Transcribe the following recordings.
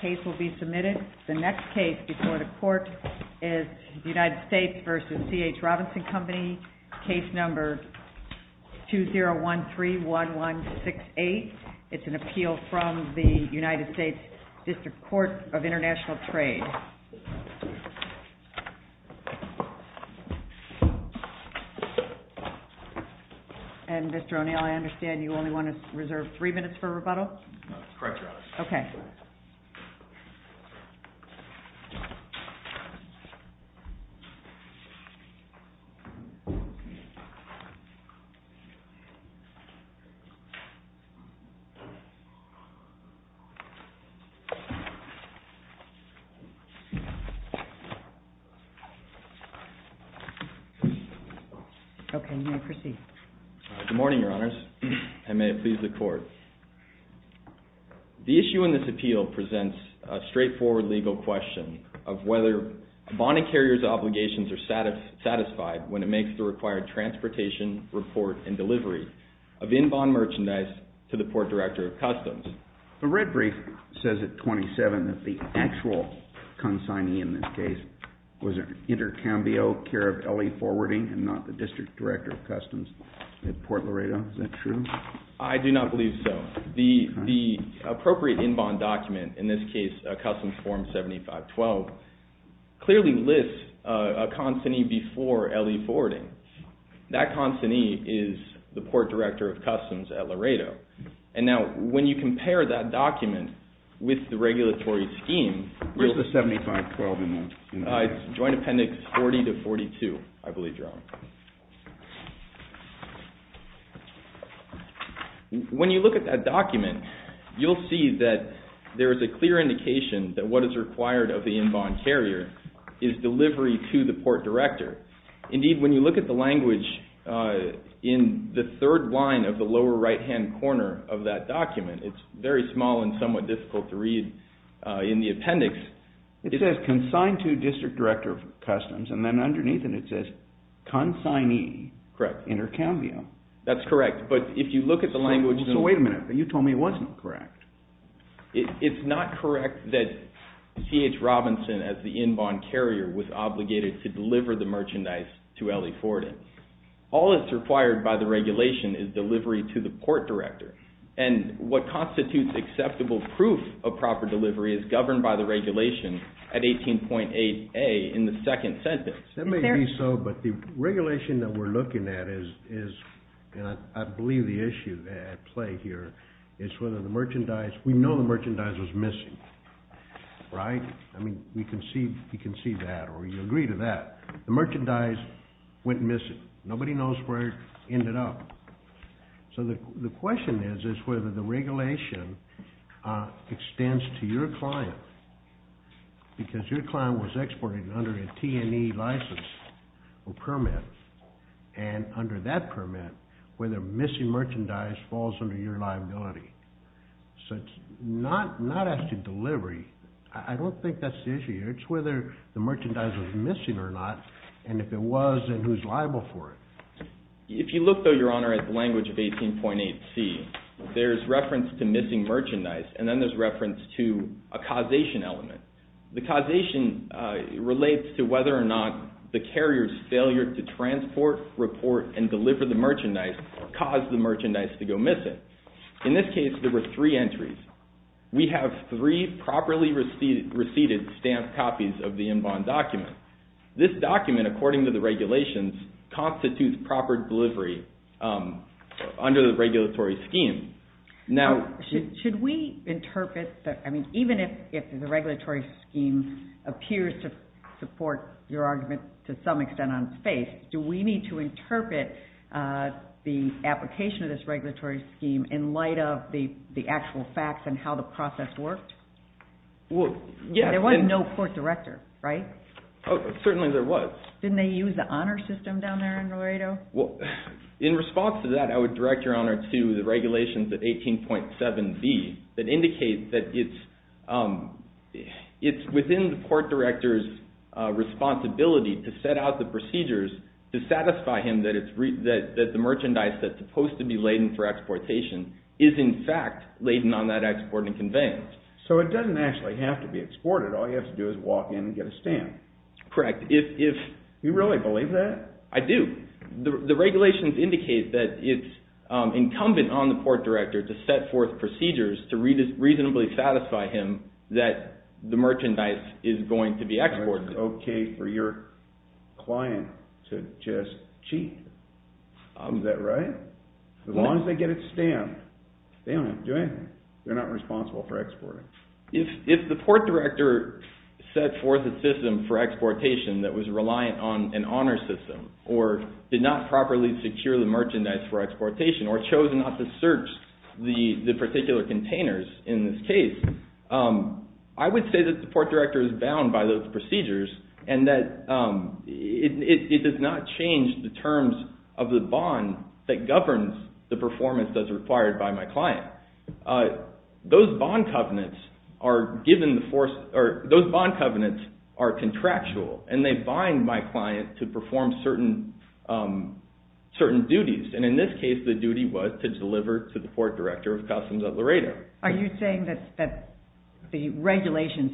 Case No. 20131168. It's an appeal from the United States District Court of International Trade. And Mr. O'Neill, I understand you only want to reserve three minutes for rebuttal? Correct, Your Honor. Okay. Good morning, Your Honors, and may it please the Court. The issue in this appeal presents a straightforward legal question of whether a bonding carrier's obligations are satisfied when it makes the required transportation, report, and delivery of in-bond merchandise to the Port Director of Customs. The red brief says at 27 that the actual consignee in this case was Intercambio, care of L.E. Forwarding and not the District Director of Customs at Port Laredo. Is that true? I do not believe so. The appropriate in-bond document, in this case Customs Form 7512, clearly lists a consignee before L.E. Forwarding. That consignee is the Port Director of Customs at Laredo. And now when you compare that document with the regulatory scheme... What's the 7512 in there? It's Joint Appendix 40 to 42, I believe, Your Honor. When you look at that document, you'll see that there is a clear indication that what is required of the in-bond carrier is delivery to the Port Director. Indeed, when you look at the language in the third line of the lower right-hand corner of that document, it's very small and somewhat difficult to read in the appendix. It says consigned to District Director of Customs, and then underneath it, it says consignee Intercambio. That's correct, but if you look at the language... So wait a minute. You told me it wasn't correct. It's not correct that C.H. Robinson, as the in-bond carrier, was obligated to deliver the merchandise to L.E. Forwarding. All that's required by the regulation is delivery to the Port Director. And what constitutes acceptable proof of proper delivery is governed by the regulation at 18.8a in the second sentence. That may be so, but the regulation that we're looking at is... We know the merchandise was missing, right? I mean, we can see that, or you agree to that. The merchandise went missing. Nobody knows where it ended up. So the question is whether the regulation extends to your client because your client was exported under a T&E license or permit, and under that permit, whether missing merchandise falls under your liability. So it's not actually delivery. I don't think that's the issue here. It's whether the merchandise was missing or not, and if it was, then who's liable for it. If you look, though, Your Honor, at the language of 18.8c, there's reference to missing merchandise, and then there's reference to a causation element. The causation relates to whether or not the carrier's failure to transport, report, and deliver the merchandise caused the merchandise to go missing. In this case, there were three entries. We have three properly received stamped copies of the en bon document. This document, according to the regulations, constitutes proper delivery under the regulatory scheme. Now... Should we interpret that... I mean, even if the regulatory scheme appears to support your argument to some extent on space, do we need to interpret the application of this regulatory scheme in light of the actual facts and how the process worked? There was no court director, right? Certainly there was. Didn't they use the honor system down there in Laredo? In response to that, I would direct Your Honor to the regulations at 18.7b that indicate that it's within the court director's responsibility to set out the procedures to satisfy him that the merchandise that's supposed to be laden for exportation is, in fact, laden on that export and conveyance. So it doesn't actually have to be exported. All you have to do is walk in and get a stamp. Correct. Do you really believe that? I do. The regulations indicate that it's incumbent on the court director to set forth procedures to reasonably satisfy him that the merchandise is going to be exported. That's okay for your client to just cheat. Is that right? As long as they get a stamp, they don't have to do anything. They're not responsible for exporting. If the court director set forth a system for exportation that was reliant on an honor system or did not properly secure the merchandise for exportation or chose not to search the particular containers in this case, I would say that the court director is bound by those procedures and that it does not change the terms of the bond that governs the performance that's required by my client. Those bond covenants are contractual and they bind my client to perform certain duties. In this case, the duty was to deliver to the court director of Customs at Laredo. Are you saying that the regulations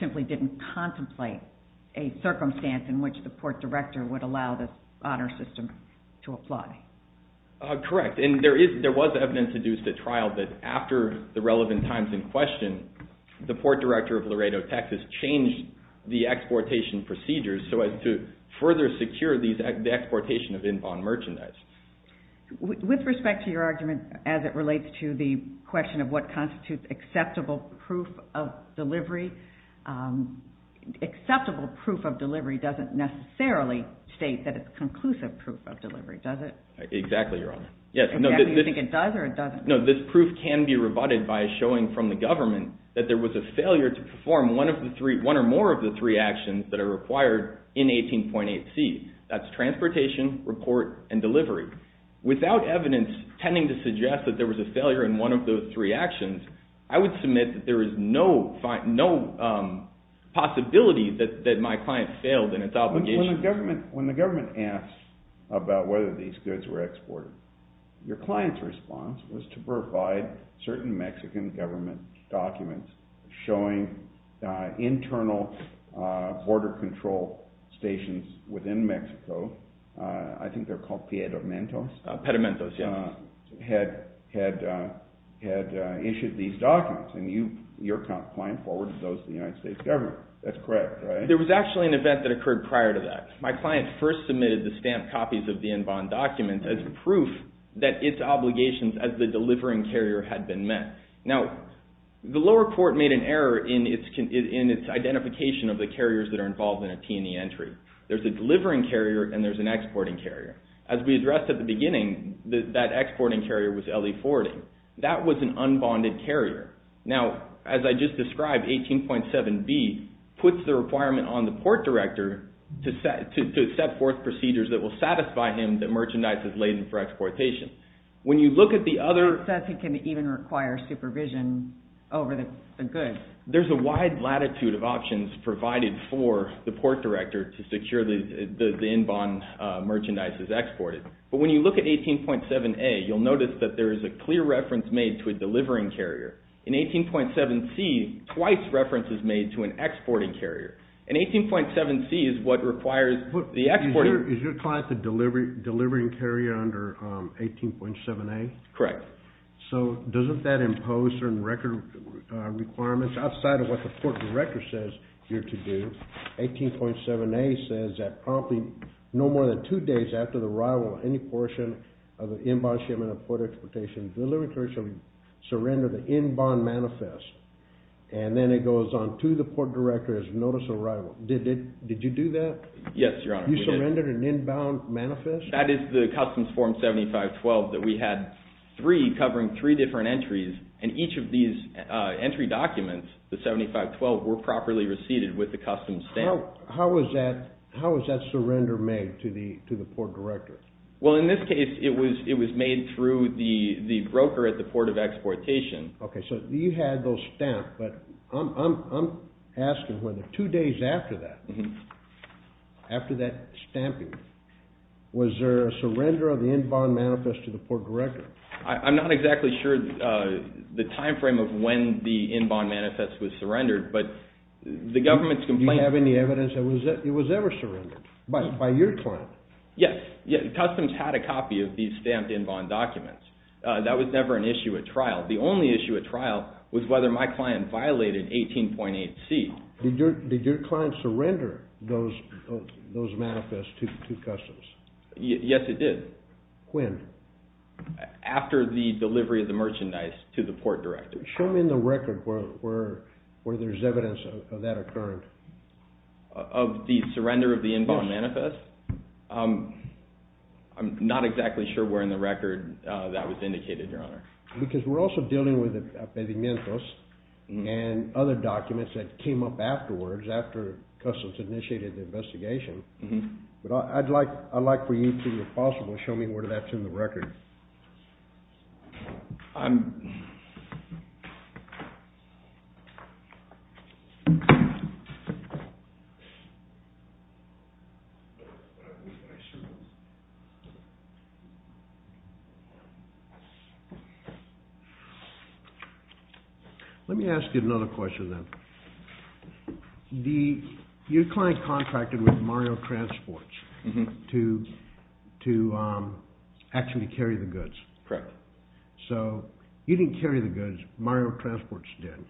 simply didn't contemplate a circumstance in which the court director would allow the honor system to apply? Correct. There was evidence in the trial that after the relevant times in question, the court director of Laredo, Texas changed the exportation procedures so as to further secure the exportation of in-bond merchandise. With respect to your argument as it relates to the question of what constitutes acceptable proof of delivery, acceptable proof of delivery doesn't necessarily state that it's conclusive proof of delivery, does it? Exactly, Your Honor. Do you think it does or it doesn't? No, this proof can be rebutted by showing from the government that there was a failure to perform one or more of the three actions that are required in 18.8c. That's transportation, report, and delivery. Without evidence tending to suggest that there was a failure in one of those three actions, I would submit that there is no possibility that my client failed in its obligation. When the government asked about whether these goods were exported, your client's response was to provide certain Mexican government documents showing internal border control stations within Mexico. I think they're called pedimentos. Pedimentos, yes. Had issued these documents, and your client forwarded those to the United States government. That's correct, right? There was actually an event that occurred prior to that. My client first submitted the stamped copies of the in-bond documents as proof that its obligations as the delivering carrier had been met. Now, the lower court made an error in its identification of the carriers that are involved in a T&E entry. There's a delivering carrier and there's an exporting carrier. As we addressed at the beginning, that exporting carrier was LE40. That was an unbonded carrier. Now, as I just described, 18.7B puts the requirement on the port director to set forth procedures that will satisfy him that merchandise is laden for exportation. When you look at the other... It says he can even require supervision over the goods. There's a wide latitude of options provided for the port director But when you look at 18.7A, you'll notice that there is a clear reference made to a delivering carrier. In 18.7C, twice reference is made to an exporting carrier. In 18.7C is what requires the exporting... Is your client the delivering carrier under 18.7A? Correct. So doesn't that impose certain record requirements? Outside of what the port director says you're to do, 18.7A says that promptly no more than two days after the arrival of any portion of the in-bond shipment of port exportation, the delivering carrier shall surrender the in-bond manifest. And then it goes on to the port director as notice of arrival. Did you do that? Yes, Your Honor. You surrendered an in-bond manifest? That is the Customs Form 7512 that we had three covering three different entries. And each of these entry documents, the 7512, were properly received with the customs stamp. How was that surrender made to the port director? Well, in this case, it was made through the broker at the port of exportation. Okay, so you had those stamped, but I'm asking whether two days after that, after that stamping, was there a surrender of the in-bond manifest to the port director? I'm not exactly sure the time frame of when the in-bond manifest was surrendered, but the government's complaint- Do you have any evidence that it was ever surrendered by your client? Yes, Customs had a copy of these stamped in-bond documents. That was never an issue at trial. The only issue at trial was whether my client violated 18.8C. Did your client surrender those manifests to Customs? Yes, it did. When? After the delivery of the merchandise to the port director. Show me in the record where there's evidence of that occurring. Of the surrender of the in-bond manifest? I'm not exactly sure where in the record that was indicated, Your Honor. Because we're also dealing with the pedimientos and other documents that came up afterwards, after Customs initiated the investigation. But I'd like for you to, if possible, show me where that's in the record. Let me ask you another question, then. Your client contracted with Mario Transport to actually carry the goods. Correct. So you didn't carry the goods, Mario Transport did.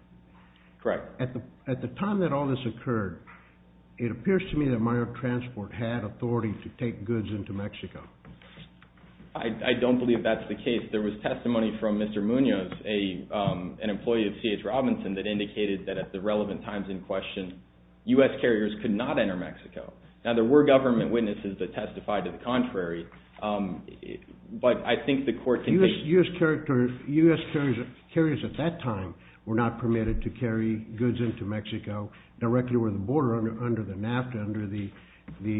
Correct. At the time that all this occurred, it appears to me that Mario Transport had authority to take goods into Mexico. I don't believe that's the case. There was testimony from Mr. Munoz, an employee of C.H. Robinson, that indicated that at the relevant times in question, U.S. carriers could not enter Mexico. Now, there were government witnesses that testified to the contrary, but I think the court can take... U.S. carriers at that time were not permitted to carry goods into Mexico directly over the border under the NAFTA, under the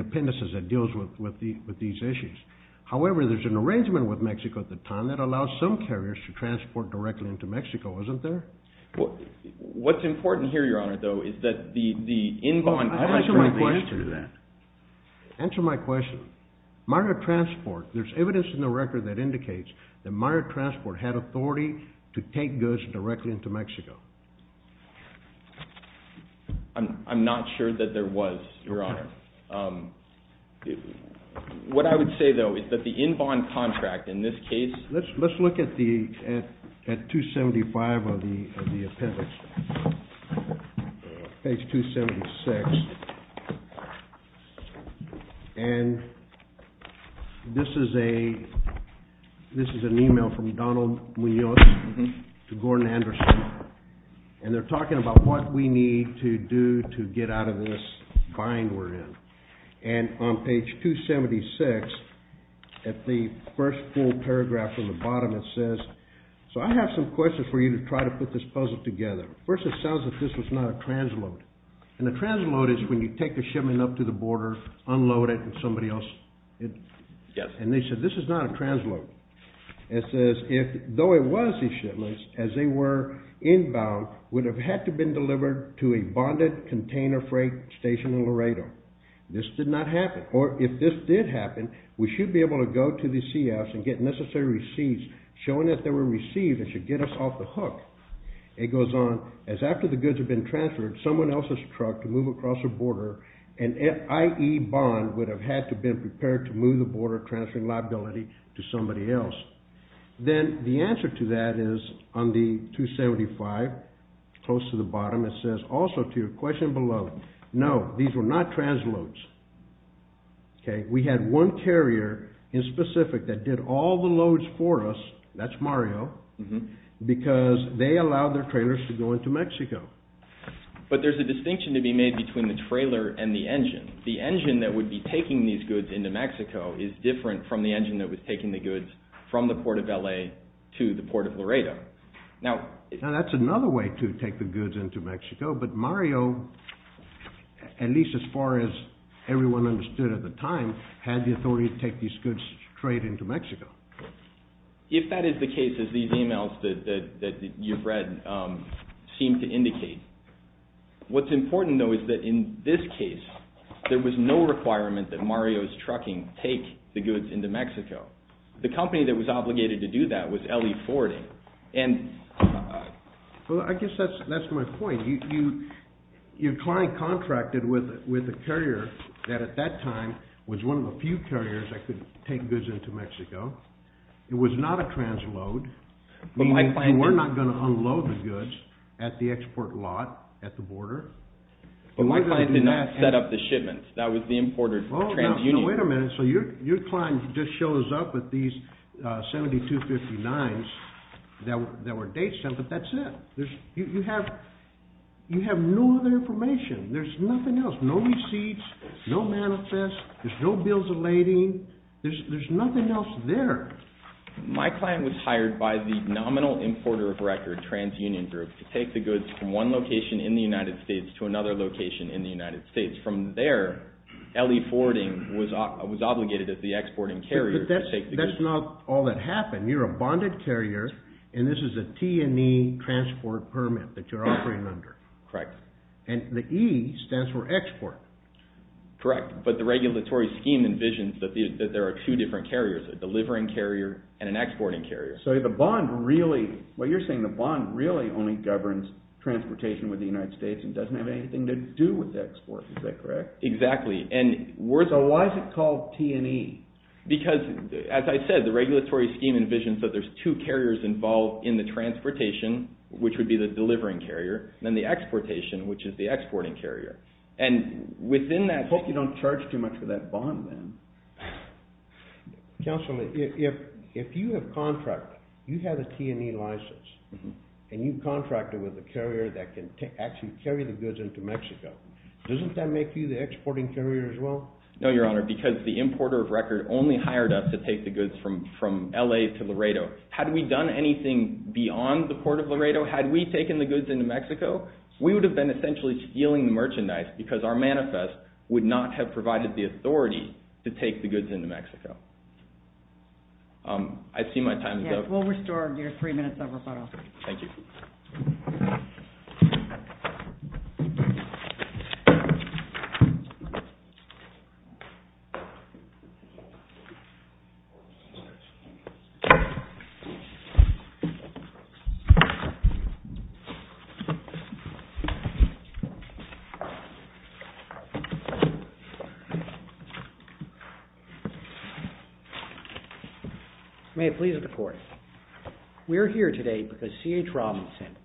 appendices that deals with these issues. However, there's an arrangement with Mexico at the time that allows some carriers to transport directly into Mexico, isn't there? What's important here, Your Honor, though, is that the in-bond... Answer my question. Answer my question. Mario Transport, there's evidence in the record that indicates that Mario Transport had authority to take goods directly into Mexico. I'm not sure that there was, Your Honor. What I would say, though, is that the in-bond contract in this case... Let's look at 275 of the appendix, page 276. And this is an email from Donald Munoz to Gordon Anderson, and they're talking about what we need to do to get out of this bind we're in. And on page 276, at the first full paragraph on the bottom, it says, so I have some questions for you to try to put this puzzle together. First, it sounds like this was not a transload. And a transload is when you take a shipment up to the border, unload it, and somebody else... Yes. And they said this is not a transload. It says, though it was a shipment, as they were inbound, would have had to been delivered to a bonded container freight station in Laredo. This did not happen. Or if this did happen, we should be able to go to the CFs and get necessary receipts showing that they were received and should get us off the hook. It goes on, as after the goods had been transferred, someone else's truck to move across the border, an IE bond would have had to have been prepared to move the border and transfer liability to somebody else. Then the answer to that is on the 275, close to the bottom, it says also to your question below, no, these were not transloads. We had one carrier in specific that did all the loads for us, that's Mario, because they allowed their trailers to go into Mexico. But there's a distinction to be made between the trailer and the engine. The engine that would be taking these goods into Mexico is different from the engine that was taking the goods from the Port of L.A. to the Port of Laredo. Now that's another way to take the goods into Mexico, but Mario, at least as far as everyone understood at the time, had the authority to take these goods straight into Mexico. If that is the case, as these emails that you've read seem to indicate, what's important though is that in this case, there was no requirement that Mario's trucking take the goods into Mexico. The company that was obligated to do that was L.E. Fording. Well, I guess that's my point. Your client contracted with a carrier that at that time was one of the few carriers that could take goods into Mexico. It was not a transload, meaning you were not going to unload the goods at the export lot at the border. But my client did not set up the shipment. That was the importer, TransUnion. Wait a minute. So your client just shows up at these 7259s that were date sent, but that's it. You have no other information. There's nothing else. No receipts, no manifest, there's no bills of lading. There's nothing else there. My client was hired by the nominal importer of record, TransUnion Group, to take the goods from one location in the United States to another location in the United States. From there, L.E. Fording was obligated as the exporting carrier to take the goods. But that's not all that happened. You're a bonded carrier, and this is a T&E transport permit that you're operating under. Correct. And the E stands for export. Correct. But the regulatory scheme envisions that there are two different carriers, a delivering carrier and an exporting carrier. So the bond really only governs transportation with the United States and doesn't have anything to do with export. Is that correct? Exactly. So why is it called T&E? Because, as I said, the regulatory scheme envisions that there's two carriers involved in the transportation, which would be the delivering carrier, and then the exportation, which is the exporting carrier. I hope you don't charge too much for that bond then. Counselor, if you have contracted, you have a T&E license, and you contracted with a carrier that can actually carry the goods into Mexico, doesn't that make you the exporting carrier as well? No, Your Honor, because the importer of record only hired us to take the goods from L.A. to Laredo. Had we done anything beyond the port of Laredo, had we taken the goods into Mexico, we would have been essentially stealing the merchandise because our manifest would not have provided the authority to take the goods into Mexico. I see my time is up. We'll restore your three minutes of rebuttal. Thank you. May it please the Court. We're here today because C.H. Robinson,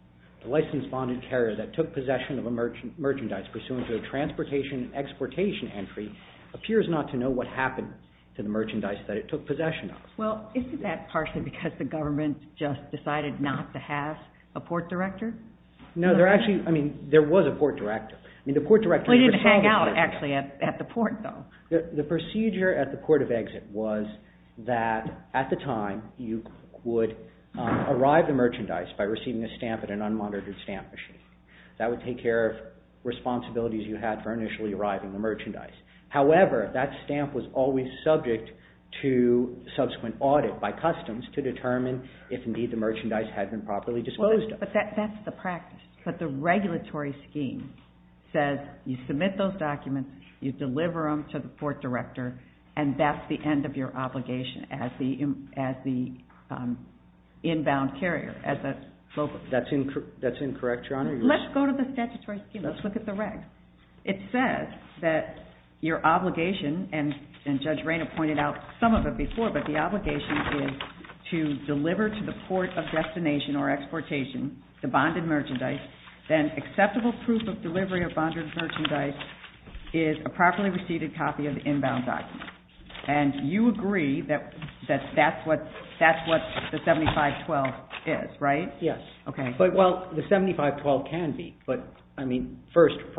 the licensed bonded carrier that took possession of a merchandise pursuant to a transportation and exportation entry, appears not to know what happened to the merchandise that it took possession of. Well, isn't that partially because the government just decided not to have a port director? No, there actually, I mean, there was a port director. We didn't hang out actually at the port though. The procedure at the port of exit was that at the time you would arrive the merchandise by receiving a stamp at an unmonitored stamp machine. That would take care of responsibilities you had for initially arriving the merchandise. However, that stamp was always subject to subsequent audit by customs to determine if indeed the merchandise had been properly disposed of. But that's the practice. But the regulatory scheme says you submit those documents, you deliver them to the port director, and that's the end of your obligation as the inbound carrier, as a mobile carrier. That's incorrect, Your Honor. Let's go to the statutory scheme. Let's look at the regs. It says that your obligation, and Judge Rayna pointed out some of it before, but the obligation is to deliver to the port of destination or exportation the bonded merchandise. Then acceptable proof of delivery of bonded merchandise is a properly received copy of the inbound document. And you agree that that's what the 7512 is, right? Yes. Okay. Well, the 7512 can be. But, I mean, first, a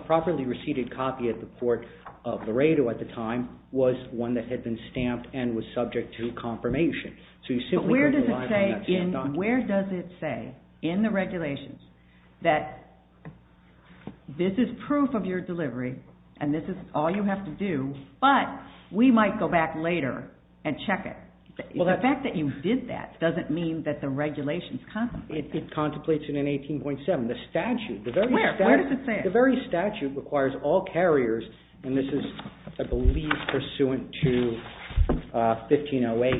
properly received copy at the port of Laredo at the time was one that had been stamped and was subject to confirmation. But where does it say in the regulations that this is proof of your delivery and this is all you have to do, but we might go back later and check it? The fact that you did that doesn't mean that the regulations contemplate that. It contemplates it in 18.7. The statute, the very statute requires all carriers, and this is, I believe, pursuant to 1508,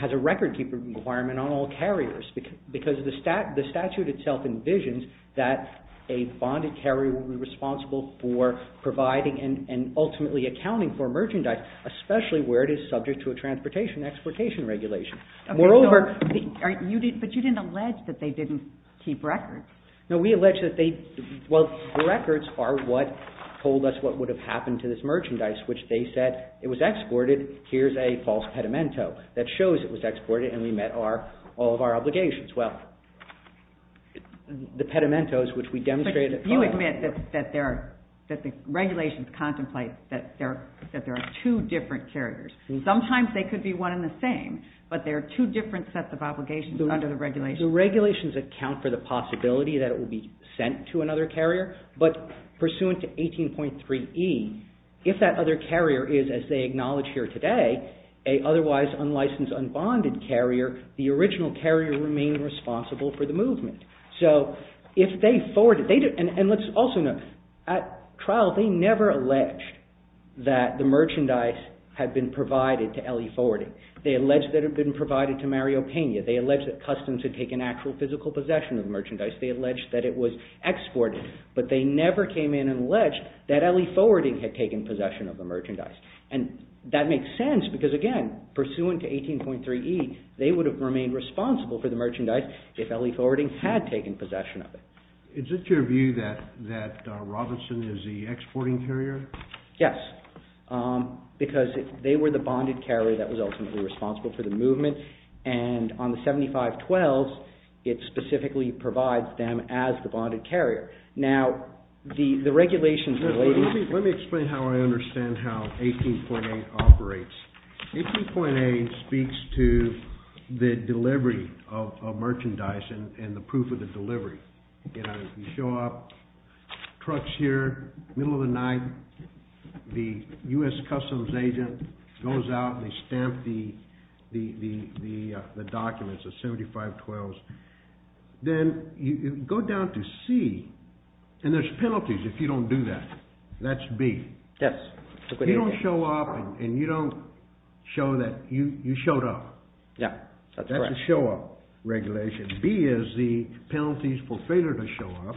has a record-keeping requirement on all carriers because the statute itself envisions that a bonded carrier will be responsible for providing and ultimately accounting for merchandise, especially where it is subject to a transportation-exportation regulation. But you didn't allege that they didn't keep records. No, we allege that they, well, the records are what told us what would have happened to this merchandise, which they said it was exported. Here's a false pedimento that shows it was exported and we met all of our obligations. Well, the pedimentos, which we demonstrated. But you admit that the regulations contemplate that there are two different carriers. Sometimes they could be one and the same, but there are two different sets of obligations under the regulations. The regulations account for the possibility that it will be sent to another carrier, but pursuant to 18.3e, if that other carrier is, as they acknowledge here today, a otherwise unlicensed, unbonded carrier, the original carrier remained responsible for the movement. So if they forwarded, and let's also note, at trial they never alleged that the merchandise had been provided to LE Forwarding. They alleged that it had been provided to Mariopena. They alleged that Customs had taken actual physical possession of the merchandise. They alleged that it was exported, but they never came in and alleged that LE Forwarding had taken possession of the merchandise. And that makes sense, because again, pursuant to 18.3e, they would have remained responsible for the merchandise if LE Forwarding had taken possession of it. Is it your view that Robinson is the exporting carrier? Yes. Because they were the bonded carrier that was ultimately responsible for the movement and on the 7512s, it specifically provides them as the bonded carrier. Now, the regulations relating to that... Let me explain how I understand how 18.8 operates. 18.8 speaks to the delivery of merchandise and the proof of the delivery. You know, you show up, truck's here, middle of the night, the U.S. Customs agent goes out and they stamp the documents, the 7512s. Then you go down to C, and there's penalties if you don't do that. That's B. Yes. You don't show up and you don't show that you showed up. Yeah, that's correct. That's a show-up regulation. B is the penalties for failure to show up,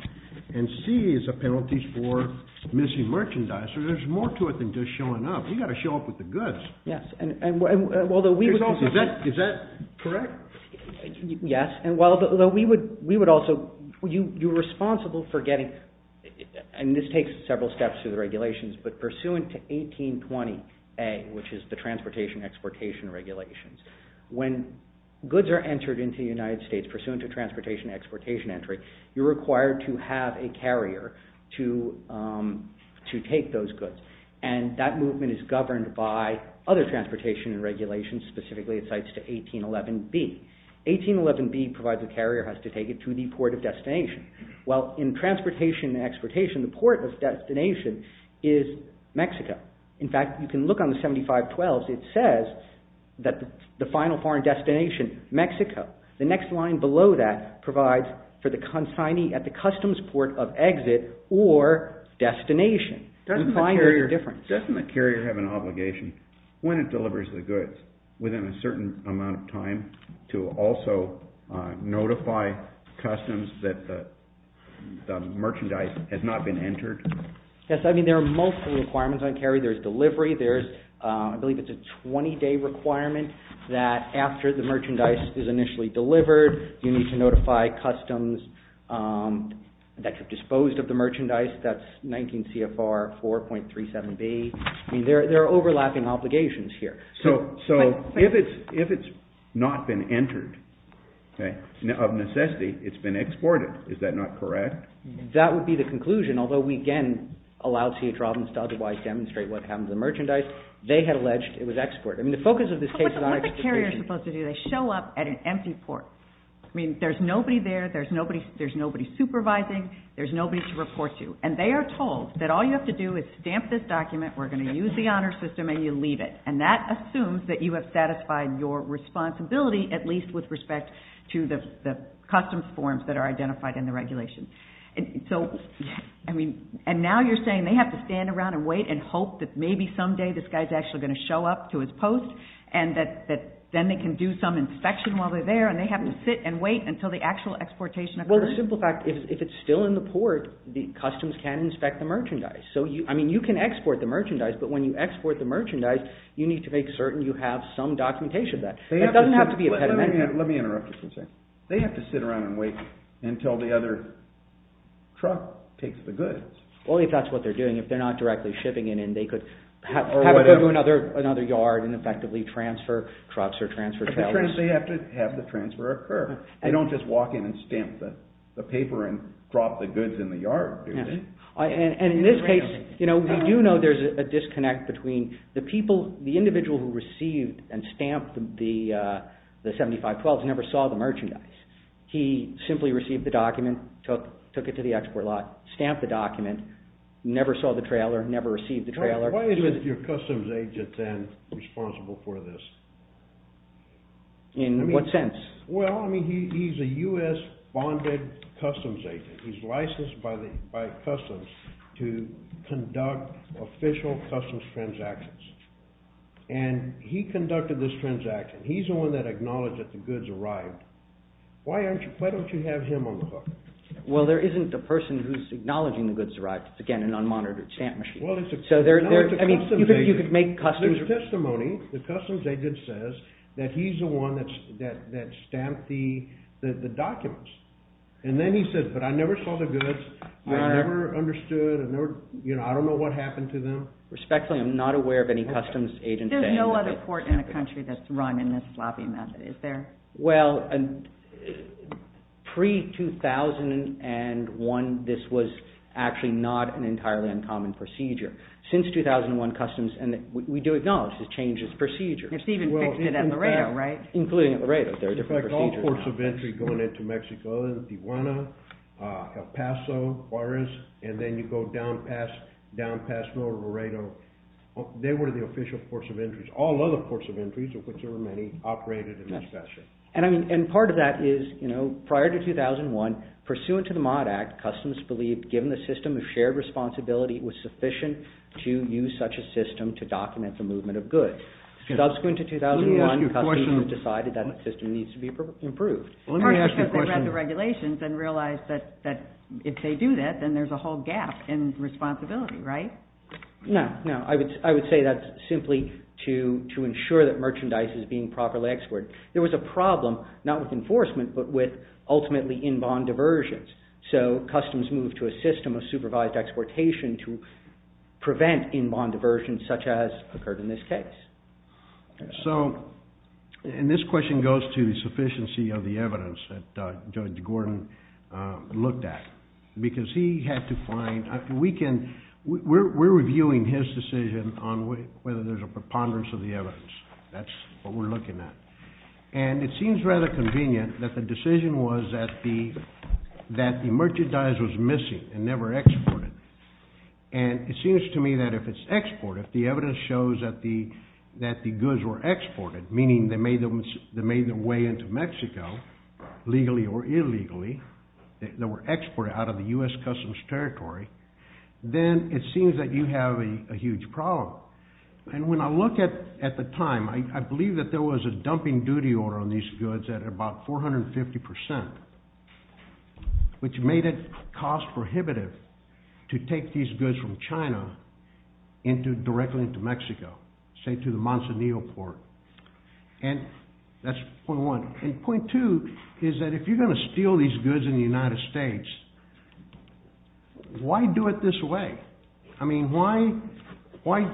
and C is the penalties for missing merchandise. So there's more to it than just showing up. You've got to show up with the goods. Yes, and although we would... Is that correct? Yes, and although we would also... You're responsible for getting... And this takes several steps through the regulations, but pursuant to 18.20A, which is the transportation-exportation regulations, when goods are entered into the United States pursuant to transportation-exportation entry, you're required to have a carrier to take those goods, and that movement is governed by other transportation regulations, specifically it cites to 18.11B. 18.11B provides the carrier has to take it to the port of destination. Well, in transportation-exportation, the port of destination is Mexico. In fact, you can look on the 75.12s. It says that the final foreign destination, Mexico. The next line below that provides for the consignee at the customs port of exit or destination. Doesn't the carrier have an obligation when it delivers the goods within a certain amount of time to also notify customs that the merchandise has not been entered? Yes, I mean, there are multiple requirements on carry. There's delivery. I believe it's a 20-day requirement that after the merchandise is initially delivered, you need to notify customs that have disposed of the merchandise. That's 19 CFR 4.37B. I mean, there are overlapping obligations here. So if it's not been entered, of necessity, it's been exported. Is that not correct? That would be the conclusion, although we, again, allowed C.H. Robbins to otherwise demonstrate what happened to the merchandise. They had alleged it was exported. I mean, the focus of this case is on exportation. What's a carrier supposed to do? They show up at an empty port. I mean, there's nobody there. There's nobody supervising. There's nobody to report to. And they are told that all you have to do is stamp this document, we're going to use the honor system, and you leave it. And that assumes that you have satisfied your responsibility, at least with respect to the customs forms that are identified in the regulation. So, I mean, and now you're saying they have to stand around and wait and hope that maybe someday this guy's actually going to show up to his post and that then they can do some inspection while they're there, and they have to sit and wait until the actual exportation occurs? Well, the simple fact, if it's still in the port, the customs can inspect the merchandise. So, I mean, you can export the merchandise, but when you export the merchandise, you need to make certain you have some documentation of that. It doesn't have to be a pediment. Let me interrupt you for a second. They have to sit around and wait until the other truck takes the goods. Well, if that's what they're doing. If they're not directly shipping it in, they could have it go to another yard and effectively transfer trucks or transfer trailers. They have to have the transfer occur. They don't just walk in and stamp the paper and drop the goods in the yard, do they? And in this case, we do know there's a disconnect between the people, the individual who received and stamped the 7512s never saw the merchandise. He simply received the document, took it to the export lot, stamped the document, never saw the trailer, never received the trailer. Why is your customs agent then responsible for this? In what sense? Well, I mean, he's a U.S.-bonded customs agent. He's licensed by customs to conduct official customs transactions. And he conducted this transaction. He's the one that acknowledged that the goods arrived. Why don't you have him on the hook? Well, there isn't a person who's acknowledging the goods arrived. It's, again, an unmonitored stamp machine. Well, it's a customs agent. There's testimony. The customs agent says that he's the one that stamped the documents. And then he says, but I never saw the goods. I never understood. I don't know what happened to them. Respectfully, I'm not aware of any customs agents. There's no other court in the country that's run in this sloppy method, is there? Well, pre-2001, this was actually not an entirely uncommon procedure. Since 2001 customs, we do acknowledge this changes procedure. Steven fixed it at Laredo, right? Including at Laredo. There are different procedures. In fact, all ports of entry going into Mexico, Tijuana, El Paso, Juarez, and then you go down past down past North Laredo, they were the official ports of entries. All other ports of entries, or whichever many, operated in this fashion. And part of that is, prior to 2001, pursuant to the Mott Act, customs believed, given the system of shared responsibility, it was sufficient to use such a system to document the movement of goods. Subsequent to 2001, customs decided that the system needs to be improved. Partly because they read the regulations and realized that if they do that, then there's a whole gap in responsibility, right? No, no. I would say that's simply to ensure that merchandise is being properly exported. There was a problem, not with enforcement, but with ultimately in-bond diversions. So customs moved to a system of supervised exportation to prevent in-bond diversions such as occurred in this case. So, and this question goes to the sufficiency of the evidence that Judge Gordon looked at. Because he had to find, we can, we're reviewing his decision on whether there's a preponderance of the evidence. That's what we're looking at. And it seems rather convenient that the decision was that the merchandise was missing and never exported. And it seems to me that if it's exported, if the evidence shows that the goods were exported, meaning they made their way into Mexico, legally or illegally, that were exported out of the U.S. Customs Territory, then it seems that you have a huge problem. And when I look at the time, I believe that there was a dumping duty order on these goods at about 450%, which made it cost prohibitive to take these goods from China directly into Mexico, say to the Monsonio Port. And that's point one. And point two is that if you're going to steal these goods in the United States, why do it this way? I mean, why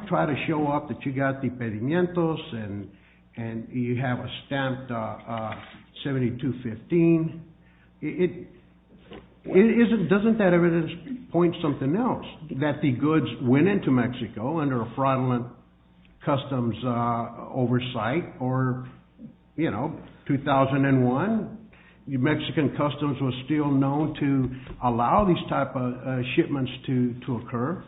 try to show off that you got impedimientos and you have a stamp 72-15? Doesn't that evidence point to something else? That the goods went into Mexico under a fraudulent customs oversight or, you know, 2001? The Mexican Customs was still known to allow these type of shipments to occur.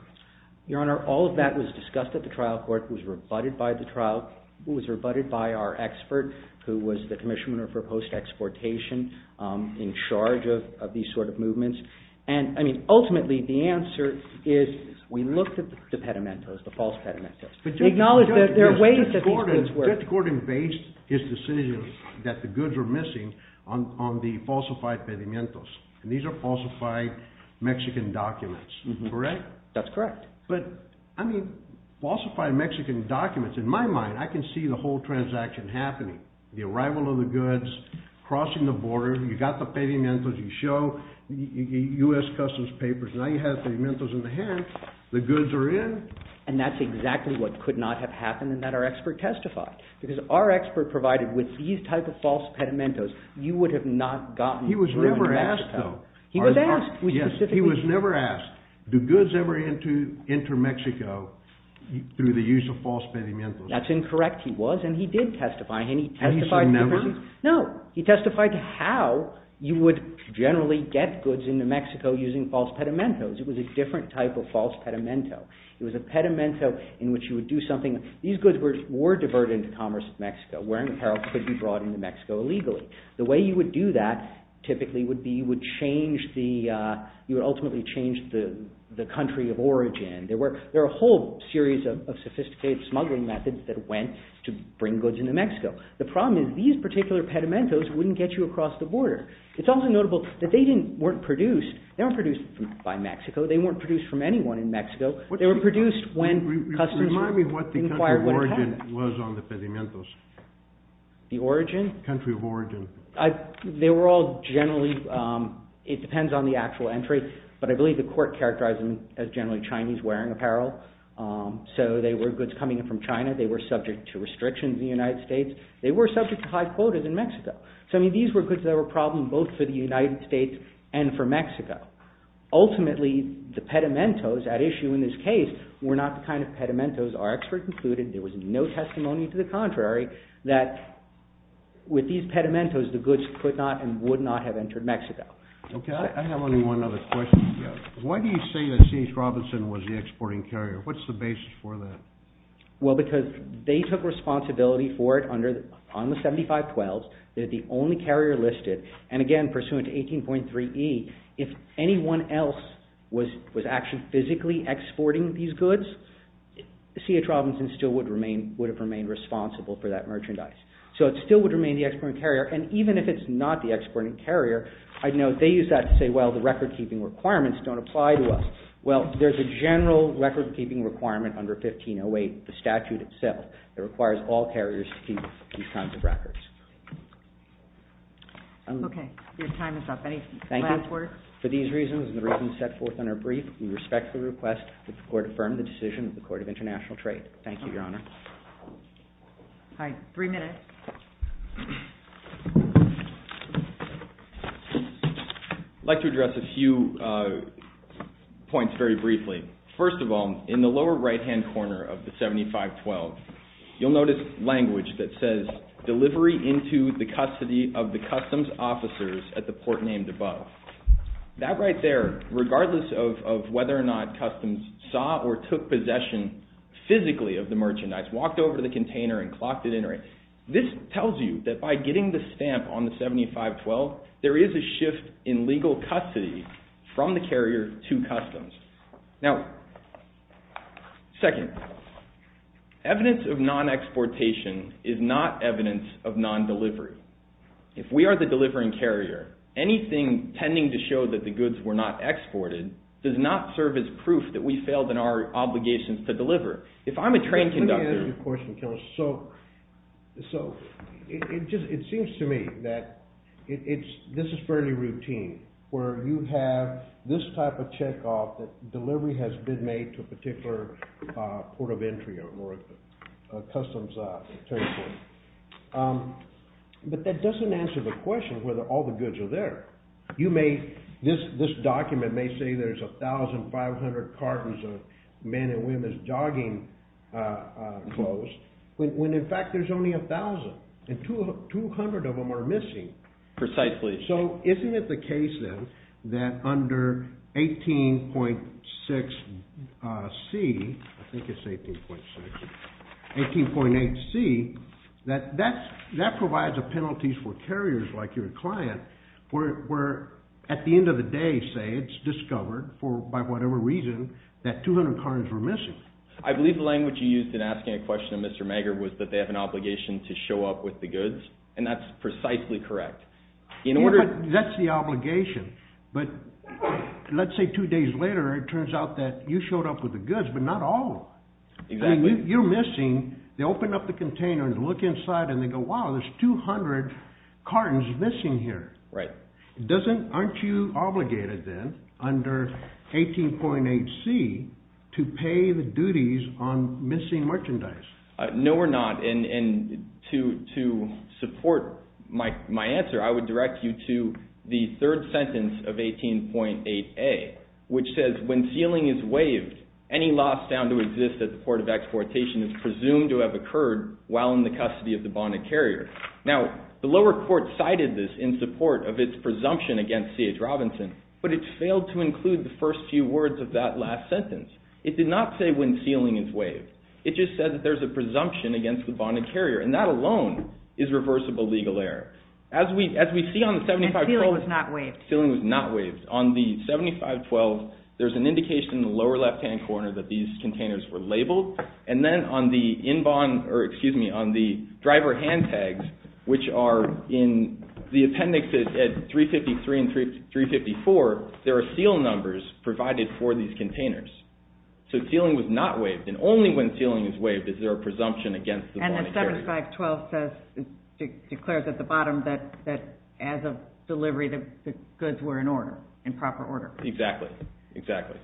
Your Honor, all of that was discussed at the trial court, was rebutted by the trial, was rebutted by our expert, who was the Commissioner for Post-Exportation, in charge of these sort of movements. And, I mean, ultimately, the answer is we looked at the impedimentos, the false impedimentos. We acknowledge that there are ways that these goods were... Judge Gordon based his decision that the goods were missing on the falsified impedimentos. And these are falsified Mexican documents, correct? That's correct. But, I mean, falsified Mexican documents, in my mind, I can see the whole transaction happening. The arrival of the goods, crossing the border, you got the impedimentos, you show U.S. Customs papers, now you have impedimentos in the hand, the goods are in. And that's exactly what could not have happened and that our expert testified. Because our expert provided with these type of false impedimentos, you would have not gotten driven to Mexico. He was never asked, though. He was asked. Yes, he was never asked, do goods ever enter Mexico through the use of false impedimentos? That's incorrect. He was and he did testify and he testified. No, he testified how you would generally get goods into Mexico using false impedimentos. It was a different type of false impedimento. It was a impedimento in which you would do something. These goods were diverted into commerce in Mexico. Wearing apparel could be brought into Mexico illegally. The way you would do that typically would be you would change the, you would ultimately change the country of origin. There were a whole series of sophisticated smuggling methods that went to bring goods into Mexico. The problem is these particular pedimentos wouldn't get you across the border. It's also notable that they didn't, weren't produced, they weren't produced by Mexico. They weren't produced from anyone in Mexico. They were produced when customers inquired what happened. Remind me what the country of origin was on the pedimentos. The origin? The country of origin. They were all generally, it depends on the actual entry, but I believe the court characterized them as generally Chinese wearing apparel. So they were goods coming in from China. They were subject to high quotas in the United States. They were subject to high quotas in Mexico. So these were goods that were a problem both for the United States and for Mexico. Ultimately, the pedimentos at issue in this case were not the kind of pedimentos our expert concluded. There was no testimony to the contrary that with these pedimentos the goods could not and would not have entered Mexico. Okay, I have only one other question. Why do you say that St. Robinson was the exporting carrier? What's the basis for that? Well, because they took responsibility for it on the 7512s. They're the only carrier listed. And again, pursuant to 18.3e, if anyone else was actually physically exporting these goods, C.H. Robinson still would have remained responsible for that merchandise. So it still would remain the exporting carrier. And even if it's not the exporting carrier, I know they use that to say, well, the record-keeping requirements don't apply to us. Well, there's a general record-keeping requirement under 1508, the statute itself, that requires all carriers to keep these kinds of records. Okay, your time is up. Any last words? Thank you. For these reasons and the reasons set forth in our brief, we respect the request that the Court affirm the decision of the Court of International Trade. Thank you, Your Honor. All right, three minutes. I'd like to address a few points very briefly. First of all, in the lower right-hand corner of the 7512, you'll notice language that says, delivery into the custody of the customs officers at the port named above. That right there, regardless of whether or not customs saw or took possession physically of the merchandise, walked over to the container and clocked it in, right? This tells you that by getting the stamp on the 7512, there is a shift in legal custody from the carrier to customs. Now, second, evidence of non-exportation is not evidence of non-delivery. If we are the delivering carrier, anything tending to show that the goods were not exported does not serve as proof that we failed in our obligations to deliver. If I'm a train conductor... Let me ask you a question, so it seems to me that this is fairly routine where you have this type of check-off that delivery has been made to a particular port of entry or a customs checkpoint. But that doesn't answer the question whether all the goods are there. You may... This document may say there's 1,500 cartons of men and women's jogging clothes, when in fact there's only 1,000, and 200 of them are missing. Precisely. So isn't it the case then that under 18.6C... I think it's 18.6... 18.8C, that provides a penalty for carriers like your client where at the end of the day, say, it's discovered, for whatever reason, that 200 cartons were missing. I believe the language you used in asking a question to Mr. Maggard was that they have an obligation to show up with the goods, and that's precisely correct. That's the obligation. But let's say two days later, it turns out that you showed up with the goods, but not all of them. Exactly. You're missing. They open up the container and look inside, and they go, wow, there's 200 cartons missing here. Right. Aren't you obligated then under 18.8C to pay the duties on missing merchandise? No, we're not. And to support my answer, I would direct you to the third sentence of 18.8A, which says, when sealing is waived, any loss found to exist at the port of exportation is presumed to have occurred while in the custody of the bonded carrier. Now, the lower court cited this in support of its presumption against C.H. Robinson, but it failed to include the first few words of that last sentence. It did not say when sealing is waived. It just said that there's a presumption against the bonded carrier, and that alone is reversible legal error. And sealing was not waived. Sealing was not waived. On the 7512, there's an indication in the lower left-hand corner that these containers were labeled, and then on the driver hand tags, which are in the appendix at 353 and 354, there are seal numbers provided for these containers. So sealing was not waived, and only when sealing is waived is there a presumption against the bonded carrier. And the 7512 declares at the bottom that as of delivery, the goods were in order, in proper order. Exactly. Exactly.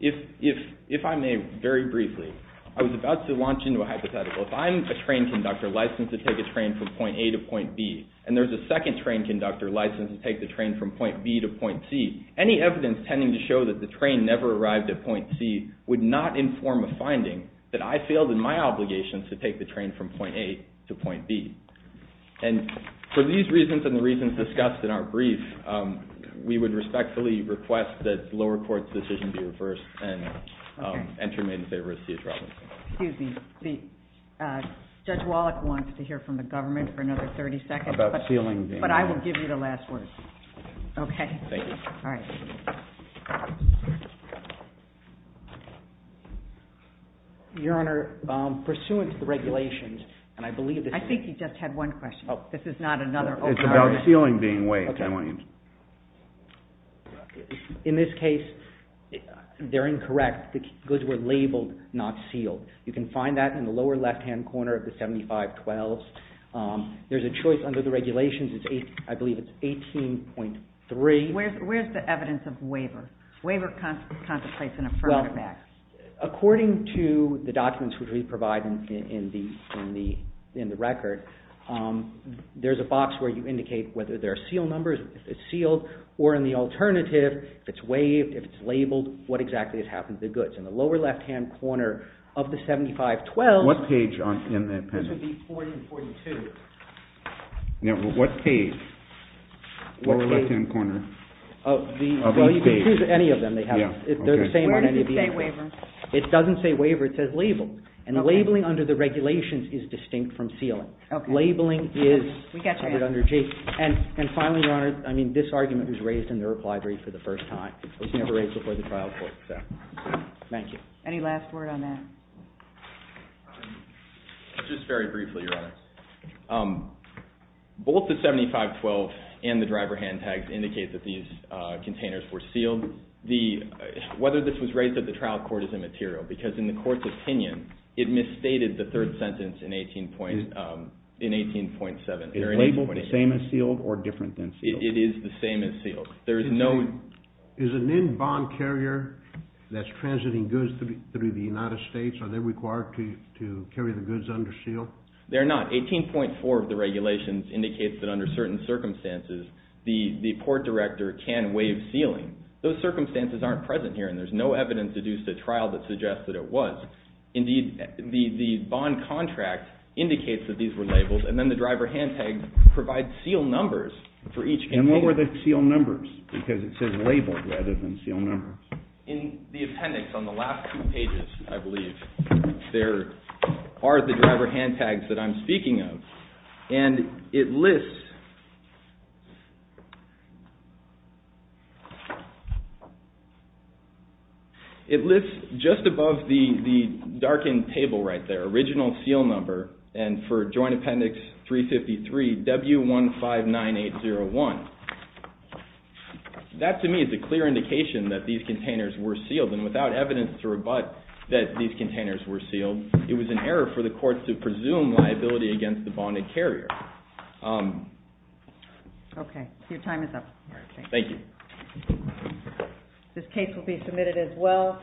If I may, very briefly, I was about to launch into a hypothetical. If I'm a train conductor licensed to take a train from point A to point B, and there's a second train conductor licensed to take the train from point B to point C, any evidence tending to show that the train never arrived at point C would not inform a finding that I failed in my obligations to take the train from point A to point B. And for these reasons and the reasons discussed in our brief, we would respectfully request that the lower court's decision be reversed and to remain in favor of C.H. Robinson. Excuse me. Judge Wallach wants to hear from the government for another 30 seconds. About sealing. But I will give you the last word. Okay. Thank you. All right. Your Honor, pursuant to the regulations, and I believe that I think he just had one question. This is not another... It's about sealing being waived. In this case, they're incorrect. The goods were labeled not sealed. You can find that in the lower left-hand corner of the 7512s. There's a choice under the regulations. I believe it's 18.3. in the record, I believe it's 18.3. I believe it's 18.3. I believe it's 18.3. I believe it's 18.3. I believe it's 18.3. There's a box where you indicate whether there are sealed numbers, if it's sealed, or, in the alternative, if it's waived, if it's labeled. What exactly has happened to the goods? In the lower left-hand corner of the 7512s... What page in the appendix? This would be 40-42. What page in the lower right-hand corner of each page? Now what page in the lower right-hand corner of each page? You can choose any of them. They're the same on any of these articles. Where does it say waiver? It doesn't say waiver. It says labeled. Okay. Labeling under the regulations is distinct from sealing. Okay. Labeling is... We got your answer. ...under G. And finally, Your Honor, I mean, this argument was raised in the Rupp Library for the first time. It was never raised before the trial court, so... Thank you. Any last word on that? Just very briefly, Your Honor. Both the 7512 and the driver hand tags indicate that these containers were sealed. Whether this was raised at the trial court is immaterial because in the court's opinion, it misstated the third sentence in 18.7 or in 18.8. Is labeled the same as sealed or different than sealed? It is the same as sealed. There is no... Is an in-bond carrier that's transiting goods through the United States, are they required to carry the goods under seal? They're not. 18.4 of the regulations indicates that under certain circumstances, the court director can waive sealing. Those circumstances aren't present here, and there's no evidence deduced at trial that suggests that it was. Indeed, the bond contract indicates that these were labeled, and then the driver hand tag provides sealed numbers for each container. And what were the sealed numbers? Because it says labeled rather than sealed numbers. In the appendix on the last two pages, I believe, there are the driver hand tags that I'm speaking of, and it lists... It lists, just above the darkened table right there, original seal number, and for Joint Appendix 353, W159801. That, to me, is a clear indication that these containers were sealed, and without evidence to rebut that these containers were sealed, it was an error for the court to presume liability against the bonded carrier. Okay. Your time is up. Thank you. This case will be submitted as well.